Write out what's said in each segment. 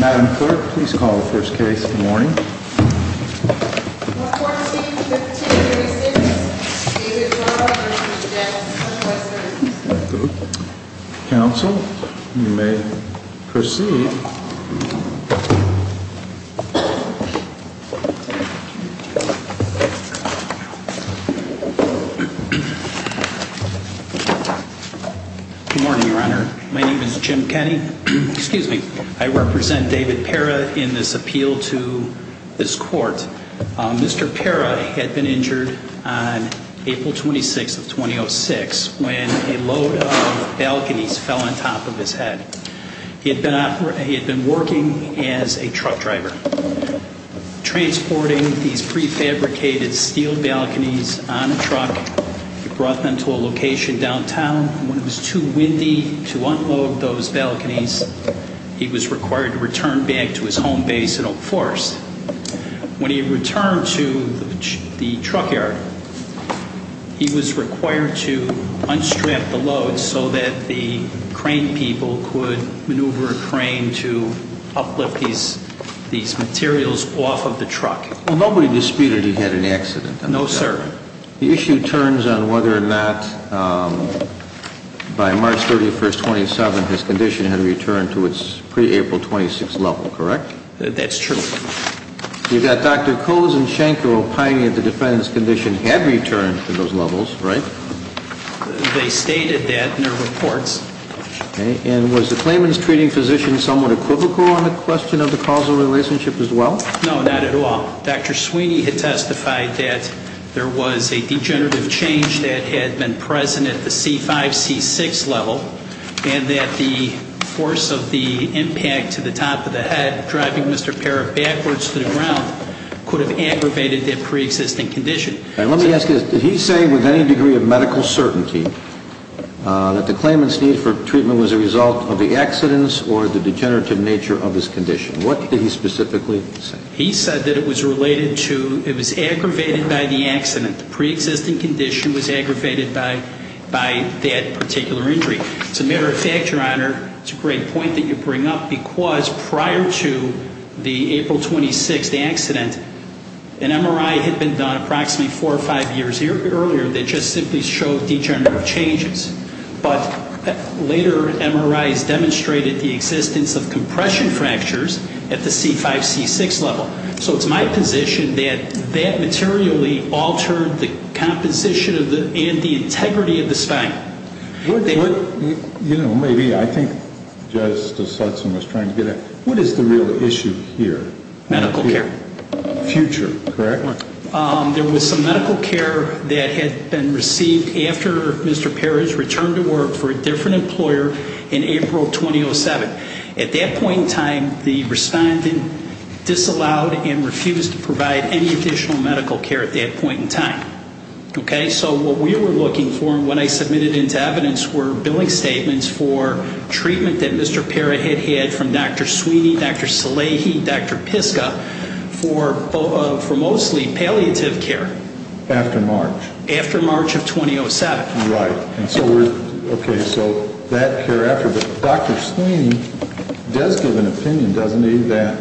Madam Clerk, please call the first case. Good morning. Counsel, you may proceed. Good morning, Your Honor. My name is Jim Kenney. Excuse me. I represent David Pera in this appeal to this court. Mr. Pera had been injured on April 26, 2006, when a load of balconies fell on top of his head. He had been working as a truck driver, transporting these prefabricated steel balconies on a truck. He brought them to a location downtown. When it was too windy to unload those balconies, he was required to return back to his home base in Oak Forest. When he returned to the truck yard, he was required to unstrap the load so that the crane people could maneuver a crane to uplift these materials off of the truck. Well, nobody disputed he had an accident. No, sir. The issue turns on whether or not, by March 31, 2007, his condition had returned to its pre-April 26 level, correct? That's true. You've got Dr. Kohs and Schenkel pining that the defendant's condition had returned to those levels, right? They stated that in their reports. Okay. And was the claimant's treating physician somewhat equivocal on the question of the causal relationship as well? No, not at all. Dr. Sweeney had testified that there was a degenerative change that had been present at the C-5, C-6 level, and that the force of the impact to the top of the head, driving Mr. Parrot backwards to the ground, could have aggravated that pre-existing condition. Let me ask you this. Did he say with any degree of medical certainty that the claimant's need for treatment was a result of the accidents or the degenerative nature of his condition? What did he specifically say? He said that it was related to, it was aggravated by the accident. The pre-existing condition was aggravated by that particular injury. As a matter of fact, Your Honor, it's a great point that you bring up because prior to the April 26 accident, an MRI had been done approximately four or five years earlier that just simply showed degenerative changes. But later MRIs demonstrated the existence of compression fractures at the C-5, C-6 level. So it's my position that that materially altered the composition and the integrity of the spine. You know, maybe I think Justice Hudson was trying to get at, what is the real issue here? Medical care. Future, correct? There was some medical care that had been received after Mr. Parrot's return to work for a different employer in April 2007. At that point in time, the respondent disallowed and refused to provide any additional medical care at that point in time. Okay, so what we were looking for when I submitted into evidence were billing statements for treatment that Mr. Parrot had had from Dr. Sweeney, Dr. Salehi, Dr. Piska for mostly palliative care. After March. After March of 2007. Right. Okay, so that care after. But Dr. Sweeney does give an opinion, doesn't he, that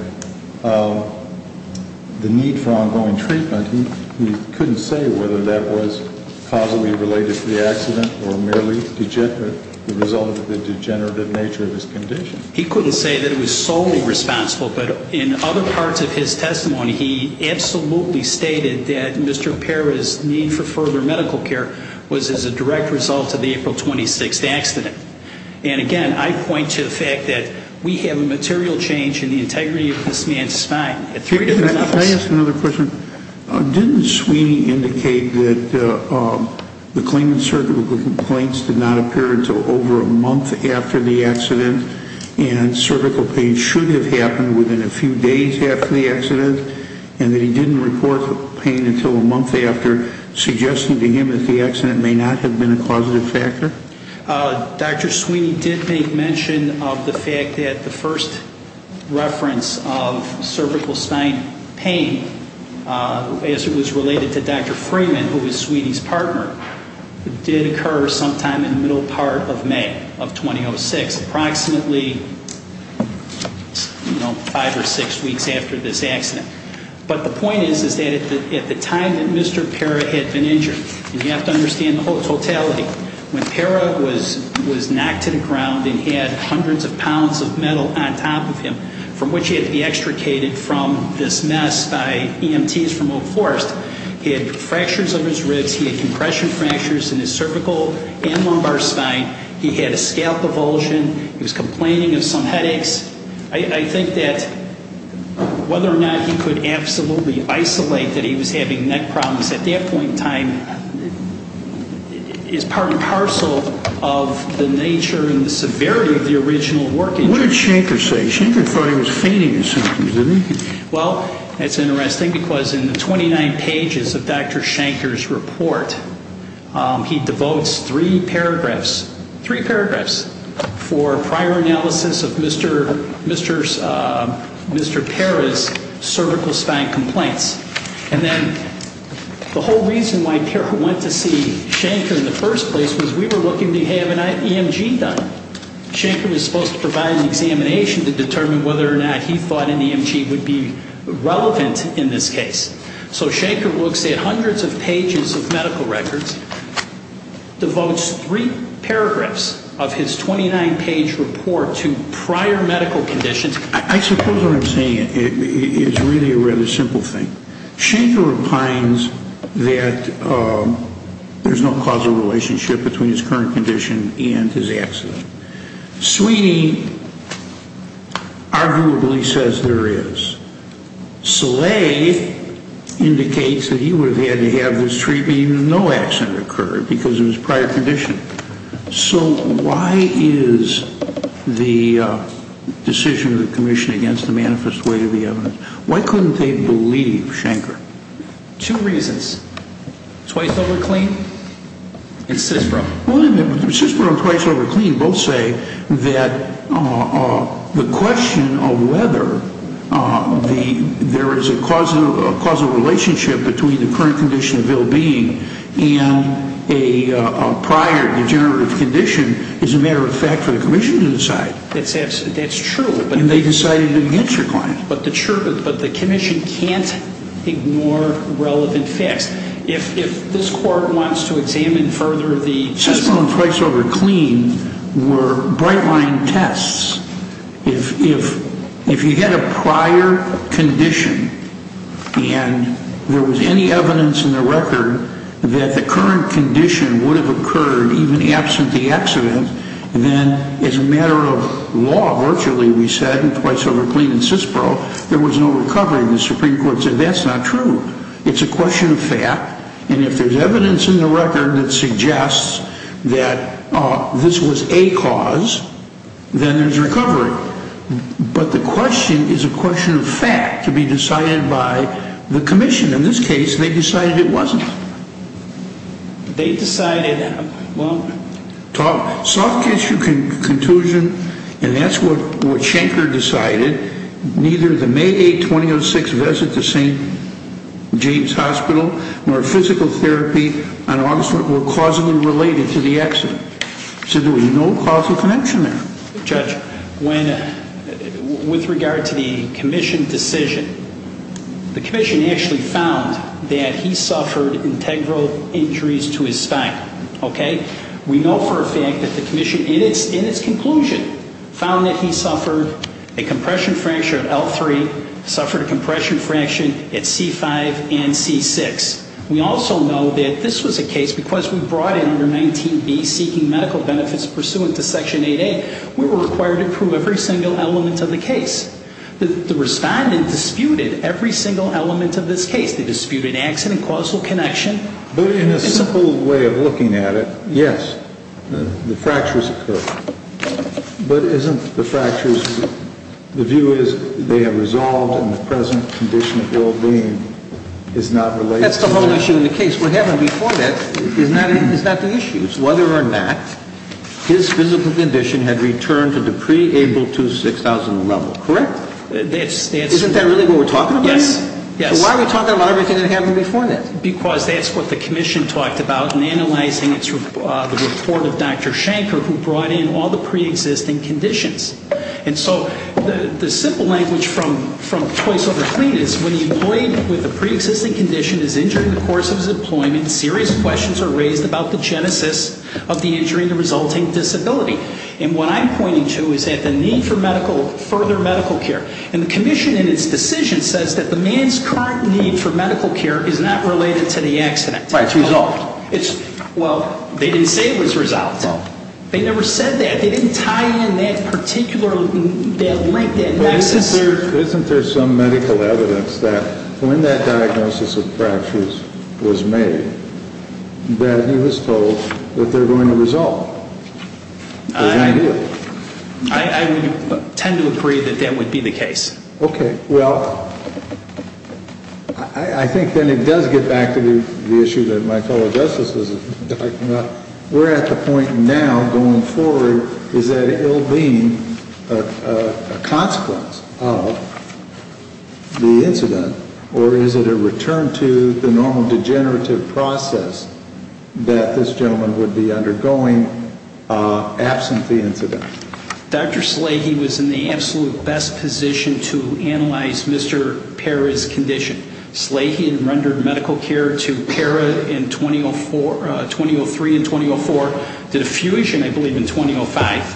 the need for ongoing treatment, he couldn't say whether that was causally related to the accident or merely the result of the degenerative nature of his condition. He couldn't say that it was solely responsible, but in other parts of his testimony, he absolutely stated that Mr. Parrot's need for further medical care was as a direct result of the April 26th accident. And again, I point to the fact that we have a material change in the integrity of this man's spine. Can I ask another question? Didn't Sweeney indicate that the claimant's surgical complaints did not appear until over a month after the accident and cervical pain should have happened within a few days after the accident? And that he didn't report the pain until a month after, suggesting to him that the accident may not have been a causative factor? Dr. Sweeney did make mention of the fact that the first reference of cervical spine pain, as it was related to Dr. Freeman, who was Sweeney's partner, did occur sometime in the middle part of May of 2006, approximately five or six weeks after this accident. But the point is that at the time that Mr. Parrot had been injured, and you have to understand the totality, when Parrot was knocked to the ground and had hundreds of pounds of metal on top of him, from which he had to be extricated from this mess by EMTs from Oak Forest, he had fractures of his ribs, he had compression fractures in his cervical and lumbar spine, he had a scalp avulsion, he was complaining of some headaches. I think that whether or not he could absolutely isolate that he was having neck problems at that point in time is part and parcel of the nature and the severity of the original work injury. What did Shanker say? Shanker thought he was fainting or something, didn't he? Well, it's interesting because in the 29 pages of Dr. Shanker's report, he devotes three paragraphs, three paragraphs, for prior analysis of Mr. Parrot's cervical spine complaints. And then the whole reason why Parrot went to see Shanker in the first place was we were looking to have an EMG done. Shanker was supposed to provide an examination to determine whether or not he thought an EMG would be relevant in this case. So Shanker looks at hundreds of pages of medical records, devotes three paragraphs of his 29-page report to prior medical conditions. I suppose what I'm saying is really a rather simple thing. Shanker opines that there's no causal relationship between his current condition and his accident. Sweeney arguably says there is. Slay indicates that he would have had to have this treatment even if no accident occurred because of his prior condition. So why is the decision of the commission against the manifest way to the evidence, why couldn't they believe Shanker? Two reasons. Twice over clean and CISPRO. Well, CISPRO and twice over clean both say that the question of whether there is a causal relationship between the current condition of ill-being and a prior degenerative condition is a matter of fact for the commission to decide. That's true. And they decided against your client. But the commission can't ignore relevant facts. If this court wants to examine further the... CISPRO and twice over clean were bright line tests. If you had a prior condition and there was any evidence in the record that the current condition would have occurred even absent the accident, then it's a matter of law. Virtually, we said, and twice over clean and CISPRO, there was no recovery. The Supreme Court said that's not true. It's a question of fact, and if there's evidence in the record that suggests that this was a cause, then there's recovery. But the question is a question of fact to be decided by the commission. In this case, they decided it wasn't. They decided, well... Soft tissue contusion, and that's what Schenker decided. Neither the May 8, 2006 visit to St. James Hospital nor physical therapy on August 1 were causally related to the accident. So there was no causal connection there. Judge, when... With regard to the commission decision, the commission actually found that he suffered integral injuries to his spine. Okay? We know for a fact that the commission, in its conclusion, found that he suffered a compression fracture of L3, suffered a compression fraction at C5 and C6. We also know that this was a case, because we brought in under 19B, seeking medical benefits pursuant to Section 8A, we were required to prove every single element of the case. The respondent disputed every single element of this case. They disputed accident, causal connection. But in a simple way of looking at it, yes, the fractures occurred. But isn't the fractures... The view is they have resolved and the present condition of ill-being is not related to... That's the whole issue in the case. What happened before that is not the issue. It's whether or not his physical condition had returned to the pre-ABLE-II-6000 level. Correct? Isn't that really what we're talking about? Yes. So why are we talking about everything that happened before that? Because that's what the commission talked about in analyzing the report of Dr. Schenker, who brought in all the pre-existing conditions. And so the simple language from choice over clean is when the employee with a pre-existing condition is injured in the course of his employment, serious questions are raised about the genesis of the injury and the resulting disability. And what I'm pointing to is that the need for further medical care. And the commission in its decision says that the man's current need for medical care is not related to the accident. Right, it's resolved. Well, they didn't say it was resolved. They never said that. They didn't tie in that particular link, that nexus. Isn't there some medical evidence that when that diagnosis of fractures was made, that he was told that they're going to resolve? I would tend to agree that that would be the case. Okay. Well, I think then it does get back to the issue that my fellow justices are talking about. We're at the point now, going forward, is that it will be a consequence of the incident, or is it a return to the normal degenerative process that this gentleman would be undergoing absent the incident? Dr. Salehi was in the absolute best position to analyze Mr. Parra's condition. Salehi had rendered medical care to Parra in 2003 and 2004, did a fusion, I believe, in 2005.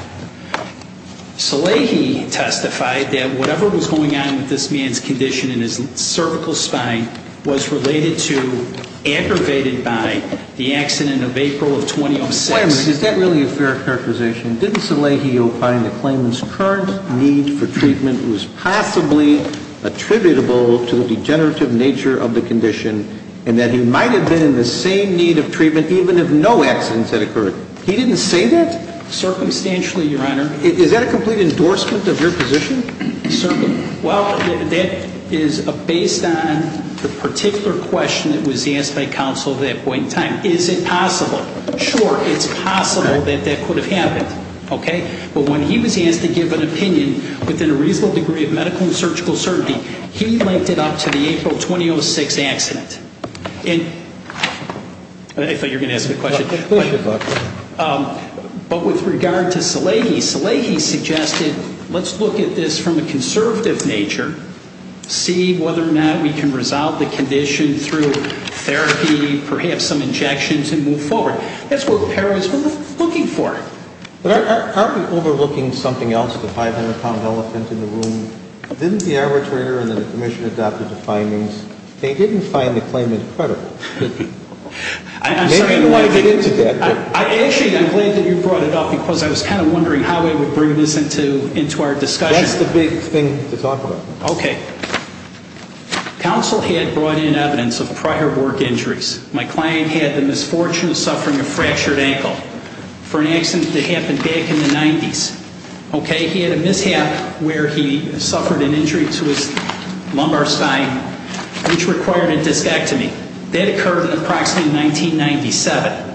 Salehi testified that whatever was going on with this man's condition in his cervical spine was related to aggravated by the accident of April of 2006. Wait a minute. Is that really a fair characterization? Didn't Salehi opine the claimant's current need for treatment was possibly attributable to the degenerative nature of the condition, and that he might have been in the same need of treatment even if no accidents had occurred? He didn't say that? Circumstantially, Your Honor. Is that a complete endorsement of your position? Certainly. Well, that is based on the particular question that was asked by counsel at that point in time. Is it possible? Sure, it's possible that that could have happened. Okay? But when he was asked to give an opinion within a reasonable degree of medical and surgical certainty, he linked it up to the April 2006 accident. And I thought you were going to ask me a question. Go ahead. But with regard to Salehi, Salehi suggested let's look at this from a conservative nature, see whether or not we can resolve the condition through therapy, perhaps some injections, and move forward. That's what the parents were looking for. Aren't we overlooking something else, the 500-pound elephant in the room? Didn't the arbitrator and the commission adopt the findings? They didn't find the claimant credible. I'm sorry. Maybe they want to get into that. Actually, I'm glad that you brought it up because I was kind of wondering how it would bring this into our discussion. That's the big thing to talk about. Okay. Counsel had brought in evidence of prior work injuries. My client had the misfortune of suffering a fractured ankle for an accident that happened back in the 90s. Okay? He had a mishap where he suffered an injury to his lumbar spine which required a discectomy. That occurred in approximately 1997.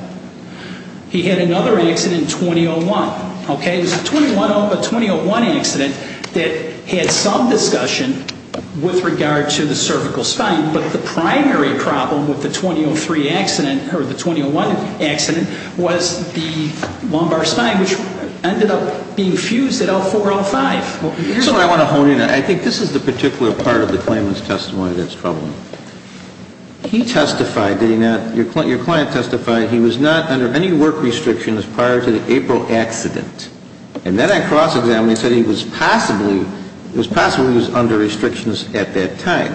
He had another accident in 2001. Okay? There's a 2001 accident that had some discussion with regard to the cervical spine, but the primary problem with the 2003 accident or the 2001 accident was the lumbar spine which ended up being fused at L4-L5. Here's what I want to hone in on. I think this is the particular part of the claimant's testimony that's troubling. He testified, did he not? Your client testified he was not under any work restrictions prior to the April accident. And then I cross-examined and said he was possibly under restrictions at that time.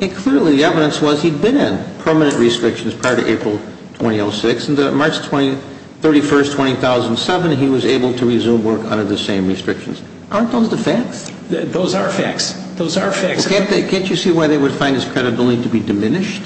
And clearly the evidence was he'd been in permanent restrictions prior to April 2006. And then on March 31st, 2007, he was able to resume work under the same restrictions. Aren't those the facts? Those are facts. Those are facts. Can't you see why they would find his credibility to be diminished?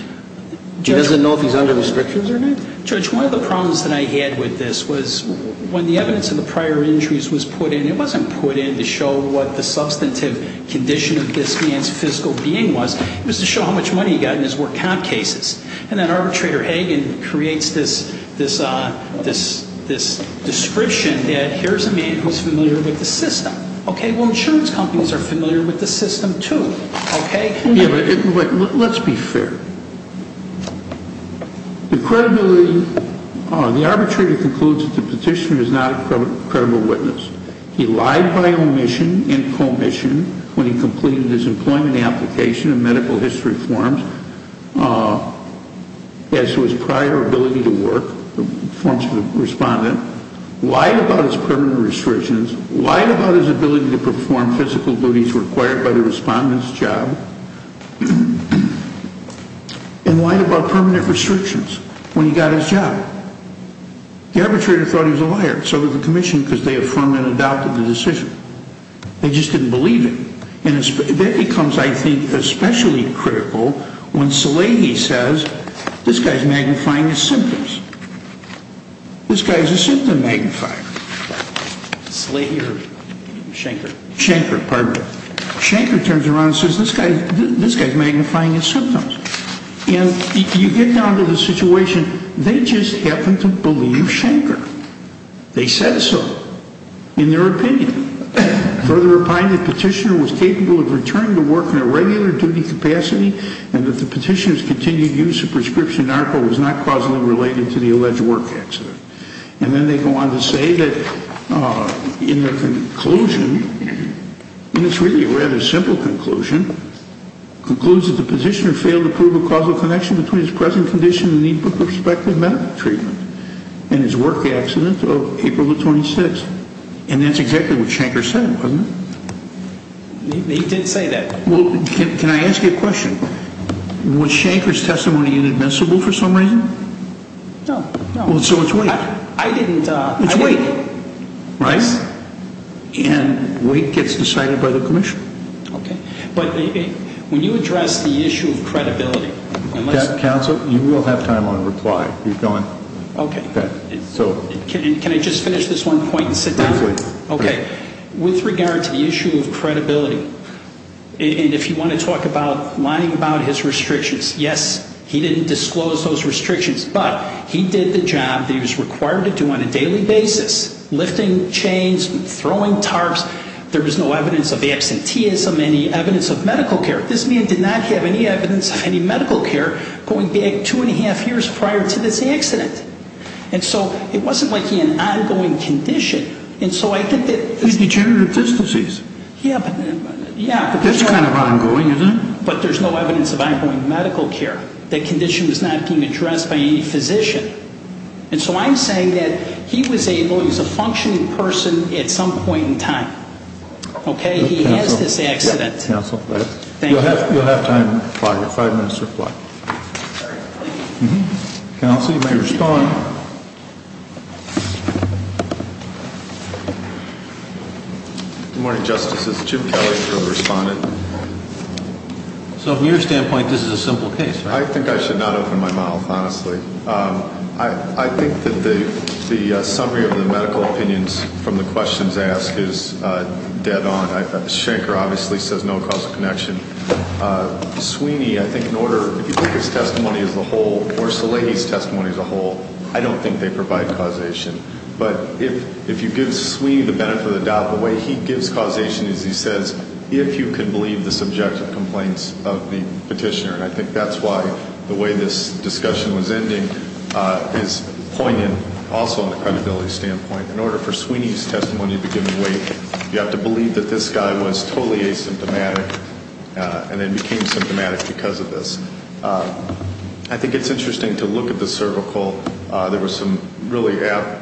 He doesn't know if he's under restrictions or not? Judge, one of the problems that I had with this was when the evidence of the prior injuries was put in, it wasn't put in to show what the substantive condition of this man's physical being was. It was to show how much money he got in his work comp cases. And then arbitrator Hagen creates this description that here's a man who's familiar with the system. Okay, well insurance companies are familiar with the system too. Okay? Let's be fair. The credibility, the arbitrator concludes that the petitioner is not a credible witness. He lied by omission and commission when he completed his employment application in medical history forms as to his prior ability to work, the forms of the respondent, lied about his permanent restrictions, lied about his ability to perform physical duties required by the respondent's job, and lied about permanent restrictions when he got his job. The arbitrator thought he was a liar. So did the commission because they affirmed and adopted the decision. They just didn't believe it. And that becomes, I think, especially critical when Salehi says this guy's magnifying his symptoms. This guy's a symptom magnifier. Salehi or Schenker? Schenker, pardon me. Schenker turns around and says this guy's magnifying his symptoms. And you get down to the situation. They just happen to believe Schenker. They said so in their opinion. Further opined the petitioner was capable of returning to work in a regular duty capacity and that the petitioner's continued use of prescription narco was not causally related to the alleged work accident. And then they go on to say that in their conclusion, and it's really a rather simple conclusion, concludes that the petitioner failed to prove a causal connection between his present condition and need for prospective medical treatment and his work accident of April the 26th. And that's exactly what Schenker said, wasn't it? He did say that. Well, can I ask you a question? Was Schenker's testimony inadmissible for some reason? No. So it's weight. I didn't. It's weight, right? Yes. And weight gets decided by the commission. Okay. But when you address the issue of credibility. Counsel, you will have time on reply. You've gone. Okay. Can I just finish this one point and sit down? Okay. With regard to the issue of credibility, and if you want to talk about lying about his restrictions, yes, he didn't disclose those restrictions, but he did the job that he was required to do on a daily basis, lifting chains, throwing tarps. There was no evidence of absenteeism, any evidence of medical care. This man did not have any evidence of any medical care going back two and a half years prior to this accident. And so it wasn't like he had an ongoing condition. He's degenerative disc disease. Yeah. That's kind of ongoing, isn't it? But there's no evidence of ongoing medical care. That condition was not being addressed by any physician. And so I'm saying that he was able, he was a functioning person at some point in time. Okay. He has this accident. Counsel. You'll have time, five minutes to reply. Sorry. Counsel, you may respond. Good morning, Justices. Jim Kelly for the respondent. So from your standpoint, this is a simple case. I think I should not open my mouth, honestly. I think that the summary of the medical opinions from the questions asked is dead on. Shanker obviously says no causal connection. Sweeney, I think in order, if you take his testimony as a whole, or Salehi's testimony as a whole, I don't think they provide causation. But if you give Sweeney the benefit of the doubt, the way he gives causation is he says, if you can believe the subjective complaints of the petitioner. And I think that's why the way this discussion was ending is poignant also on the credibility standpoint. In order for Sweeney's testimony to be given weight, you have to believe that this guy was totally asymptomatic and then became symptomatic because of this. I think it's interesting to look at the cervical. There were some really apt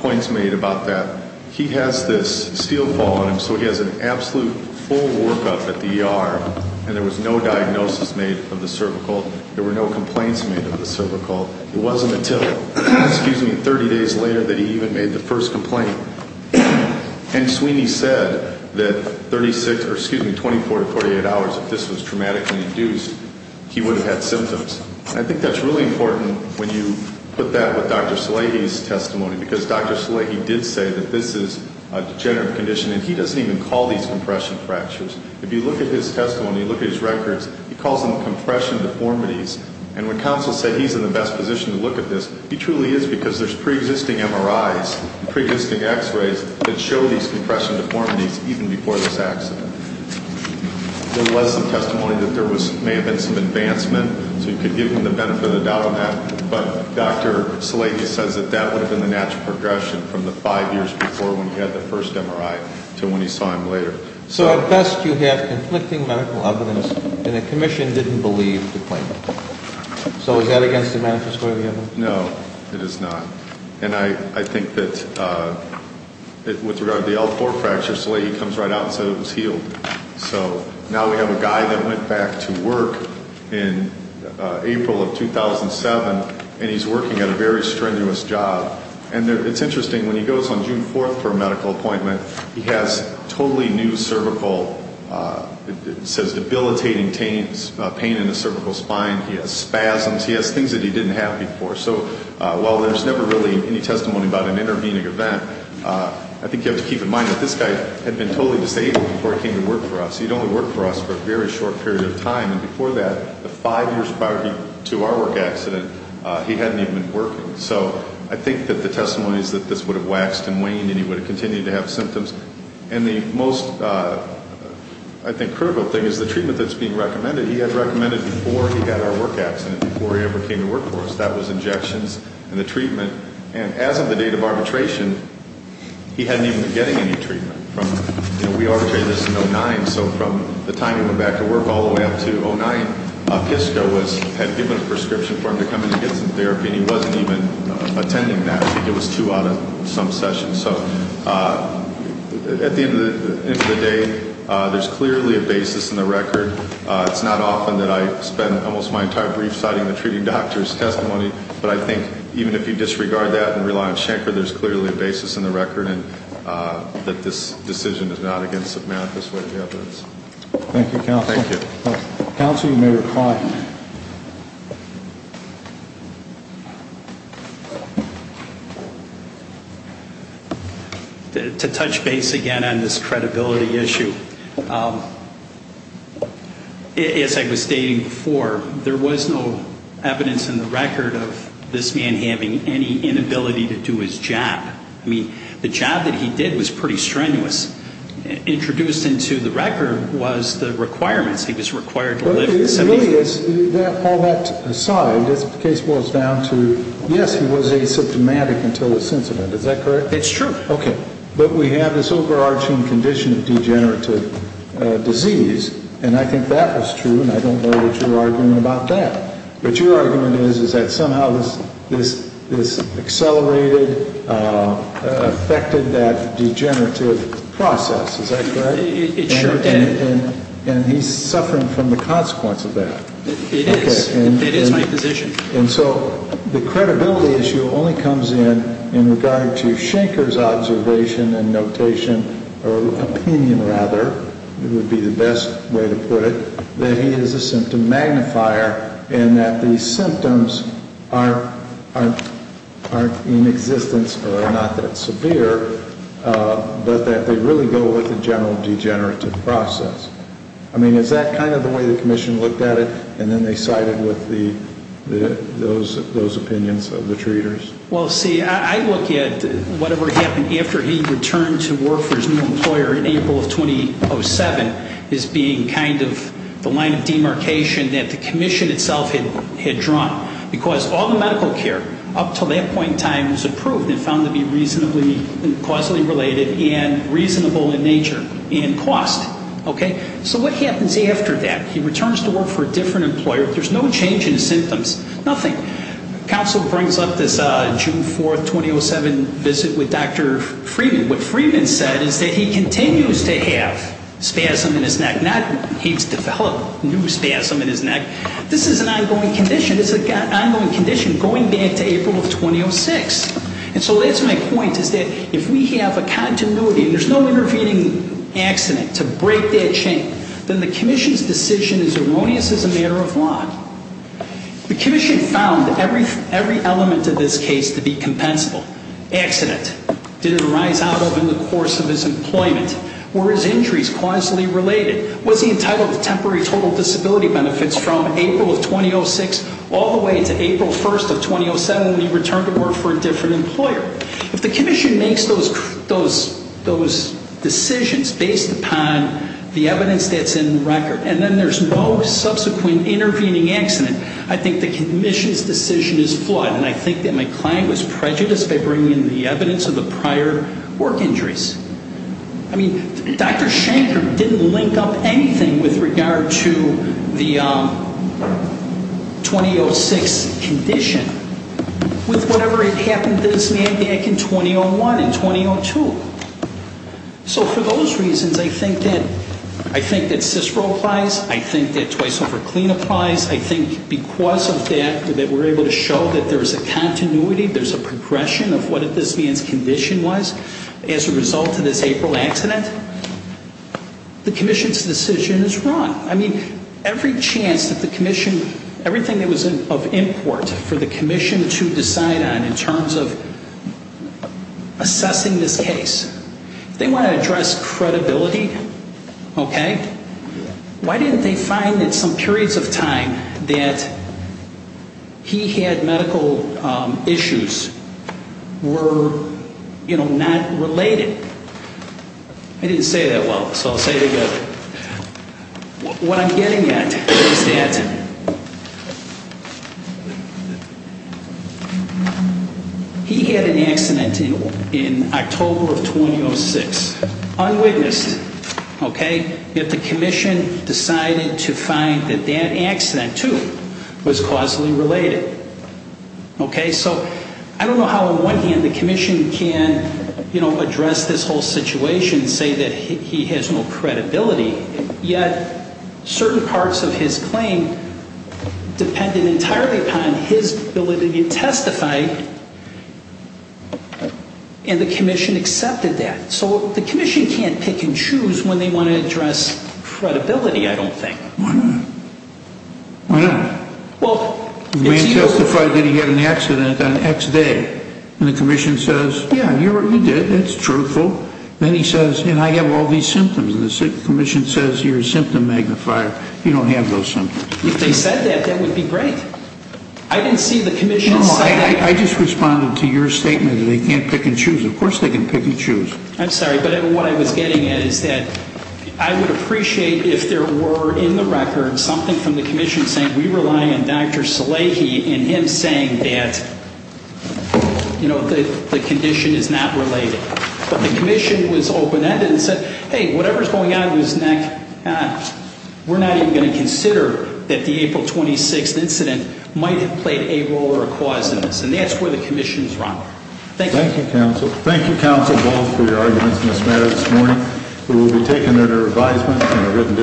points made about that. He has this steel fall on him, so he has an absolute full workup at the ER, and there was no diagnosis made of the cervical. There were no complaints made of the cervical. It wasn't until, excuse me, 30 days later that he even made the first complaint. And Sweeney said that 36, or excuse me, 24 to 48 hours, if this was traumatically induced, he would have had symptoms. And I think that's really important when you put that with Dr. Salehi's testimony because Dr. Salehi did say that this is a degenerative condition, and he doesn't even call these compression fractures. If you look at his testimony, you look at his records, he calls them compression deformities. And when counsel said he's in the best position to look at this, he truly is because there's preexisting MRIs and preexisting X-rays that show these compression deformities even before this accident. There was some testimony that there may have been some advancement, so you could give him the benefit of the doubt on that. But Dr. Salehi says that that would have been the natural progression from the five years before when he had the first MRI to when he saw him later. So at best you have conflicting medical evidence, and the commission didn't believe the claim. So is that against the manifesto that we have? No, it is not. And I think that with regard to the L4 fracture, Salehi comes right out and says it was healed. So now we have a guy that went back to work in April of 2007, and he's working at a very strenuous job. And it's interesting, when he goes on June 4th for a medical appointment, he has totally new cervical, it says debilitating pain in the cervical spine. He has spasms. He has things that he didn't have before. So while there's never really any testimony about an intervening event, I think you have to keep in mind that this guy had been totally disabled before he came to work for us. He'd only worked for us for a very short period of time. And before that, the five years prior to our work accident, he hadn't even been working. So I think that the testimony is that this would have waxed and waned, and he would have continued to have symptoms. And the most, I think, critical thing is the treatment that's being recommended. The treatment that he had recommended before he had our work accident, before he ever came to work for us, that was injections and the treatment. And as of the date of arbitration, he hadn't even been getting any treatment. You know, we arbitrated this in 2009. So from the time he went back to work all the way up to 2009, PISCO had given a prescription for him to come in and get some therapy, and he wasn't even attending that. I think it was two out of some sessions. So at the end of the day, there's clearly a basis in the record. It's not often that I spend almost my entire brief citing the treating doctor's testimony, but I think even if you disregard that and rely on Schenker, there's clearly a basis in the record that this decision is not against a manifest way of evidence. Thank you, Counselor. Thank you. Counselor, you may reply. Thank you. To touch base again on this credibility issue, as I was stating before, there was no evidence in the record of this man having any inability to do his job. I mean, the job that he did was pretty strenuous. Introduced into the record was the requirements. All that aside, the case boils down to, yes, he was asymptomatic until his incident. Is that correct? It's true. Okay. But we have this overarching condition of degenerative disease, and I think that was true, and I don't know what your argument about that. But your argument is that somehow this accelerated, affected that degenerative process. Is that correct? It sure did. And he's suffering from the consequence of that. It is. It is my position. And so the credibility issue only comes in in regard to Schenker's observation and notation, or opinion rather would be the best way to put it, that he is a symptom magnifier and that the symptoms are in existence or are not that severe, but that they really go with the general degenerative process. I mean, is that kind of the way the Commission looked at it, and then they sided with those opinions of the treaters? Well, see, I look at whatever happened after he returned to work for his new employer in April of 2007 as being kind of the line of demarcation that the Commission itself had drawn, because all the medical care up to that point in time was approved and found to be reasonably causally related and reasonable in nature and cost. So what happens after that? He returns to work for a different employer. There's no change in symptoms, nothing. Counsel brings up this June 4, 2007 visit with Dr. Freeman. What Freeman said is that he continues to have spasm in his neck. He's developed new spasm in his neck. This is an ongoing condition. It's an ongoing condition going back to April of 2006. And so that's my point, is that if we have a continuity and there's no intervening accident to break that chain, then the Commission's decision is erroneous as a matter of law. The Commission found every element of this case to be compensable. Accident, did it arise out of in the course of his employment? Were his injuries causally related? Was he entitled to temporary total disability benefits from April of 2006 all the way to April 1, 2007 when he returned to work for a different employer? If the Commission makes those decisions based upon the evidence that's in the record and then there's no subsequent intervening accident, I think the Commission's decision is flawed, and I think that my client was prejudiced by bringing in the evidence of the prior work injuries. I mean, Dr. Shanker didn't link up anything with regard to the 2006 condition with whatever had happened to this man back in 2001 and 2002. So for those reasons, I think that CISPR applies. I think that twice-overclean applies. I think because of that, that we're able to show that there's a continuity, there's a progression of what this man's condition was. As a result of this April accident, the Commission's decision is wrong. I mean, every chance that the Commission, everything that was of import for the Commission to decide on in terms of assessing this case, if they want to address credibility, okay, why didn't they find that some periods of time that he had medical issues were not related? I didn't say that well, so I'll say it again. What I'm getting at is that he had an accident in October of 2006, unwitnessed, okay? But the Commission decided to find that that accident, too, was causally related, okay? So I don't know how on one hand the Commission can, you know, address this whole situation and say that he has no credibility, yet certain parts of his claim depended entirely upon his ability to testify, and the Commission accepted that. So the Commission can't pick and choose when they want to address credibility, I don't think. Why not? Why not? The man testified that he had an accident on X day, and the Commission says, yeah, you did, that's truthful. Then he says, and I have all these symptoms, and the Commission says you're a symptom magnifier. You don't have those symptoms. If they said that, that would be great. I didn't see the Commission say that. I just responded to your statement that they can't pick and choose. Of course they can pick and choose. I'm sorry, but what I was getting at is that I would appreciate if there were in the record something from the Commission saying we rely on Dr. Salehi and him saying that, you know, the condition is not related. But the Commission was open-ended and said, hey, whatever's going on in his neck, we're not even going to consider that the April 26th incident might have played a role or a cause in this. And that's where the Commission is wrong. Thank you. Thank you, Counsel. Thank you, Counsel Ball, for your arguments in this matter this morning. We will be taking it under advisement.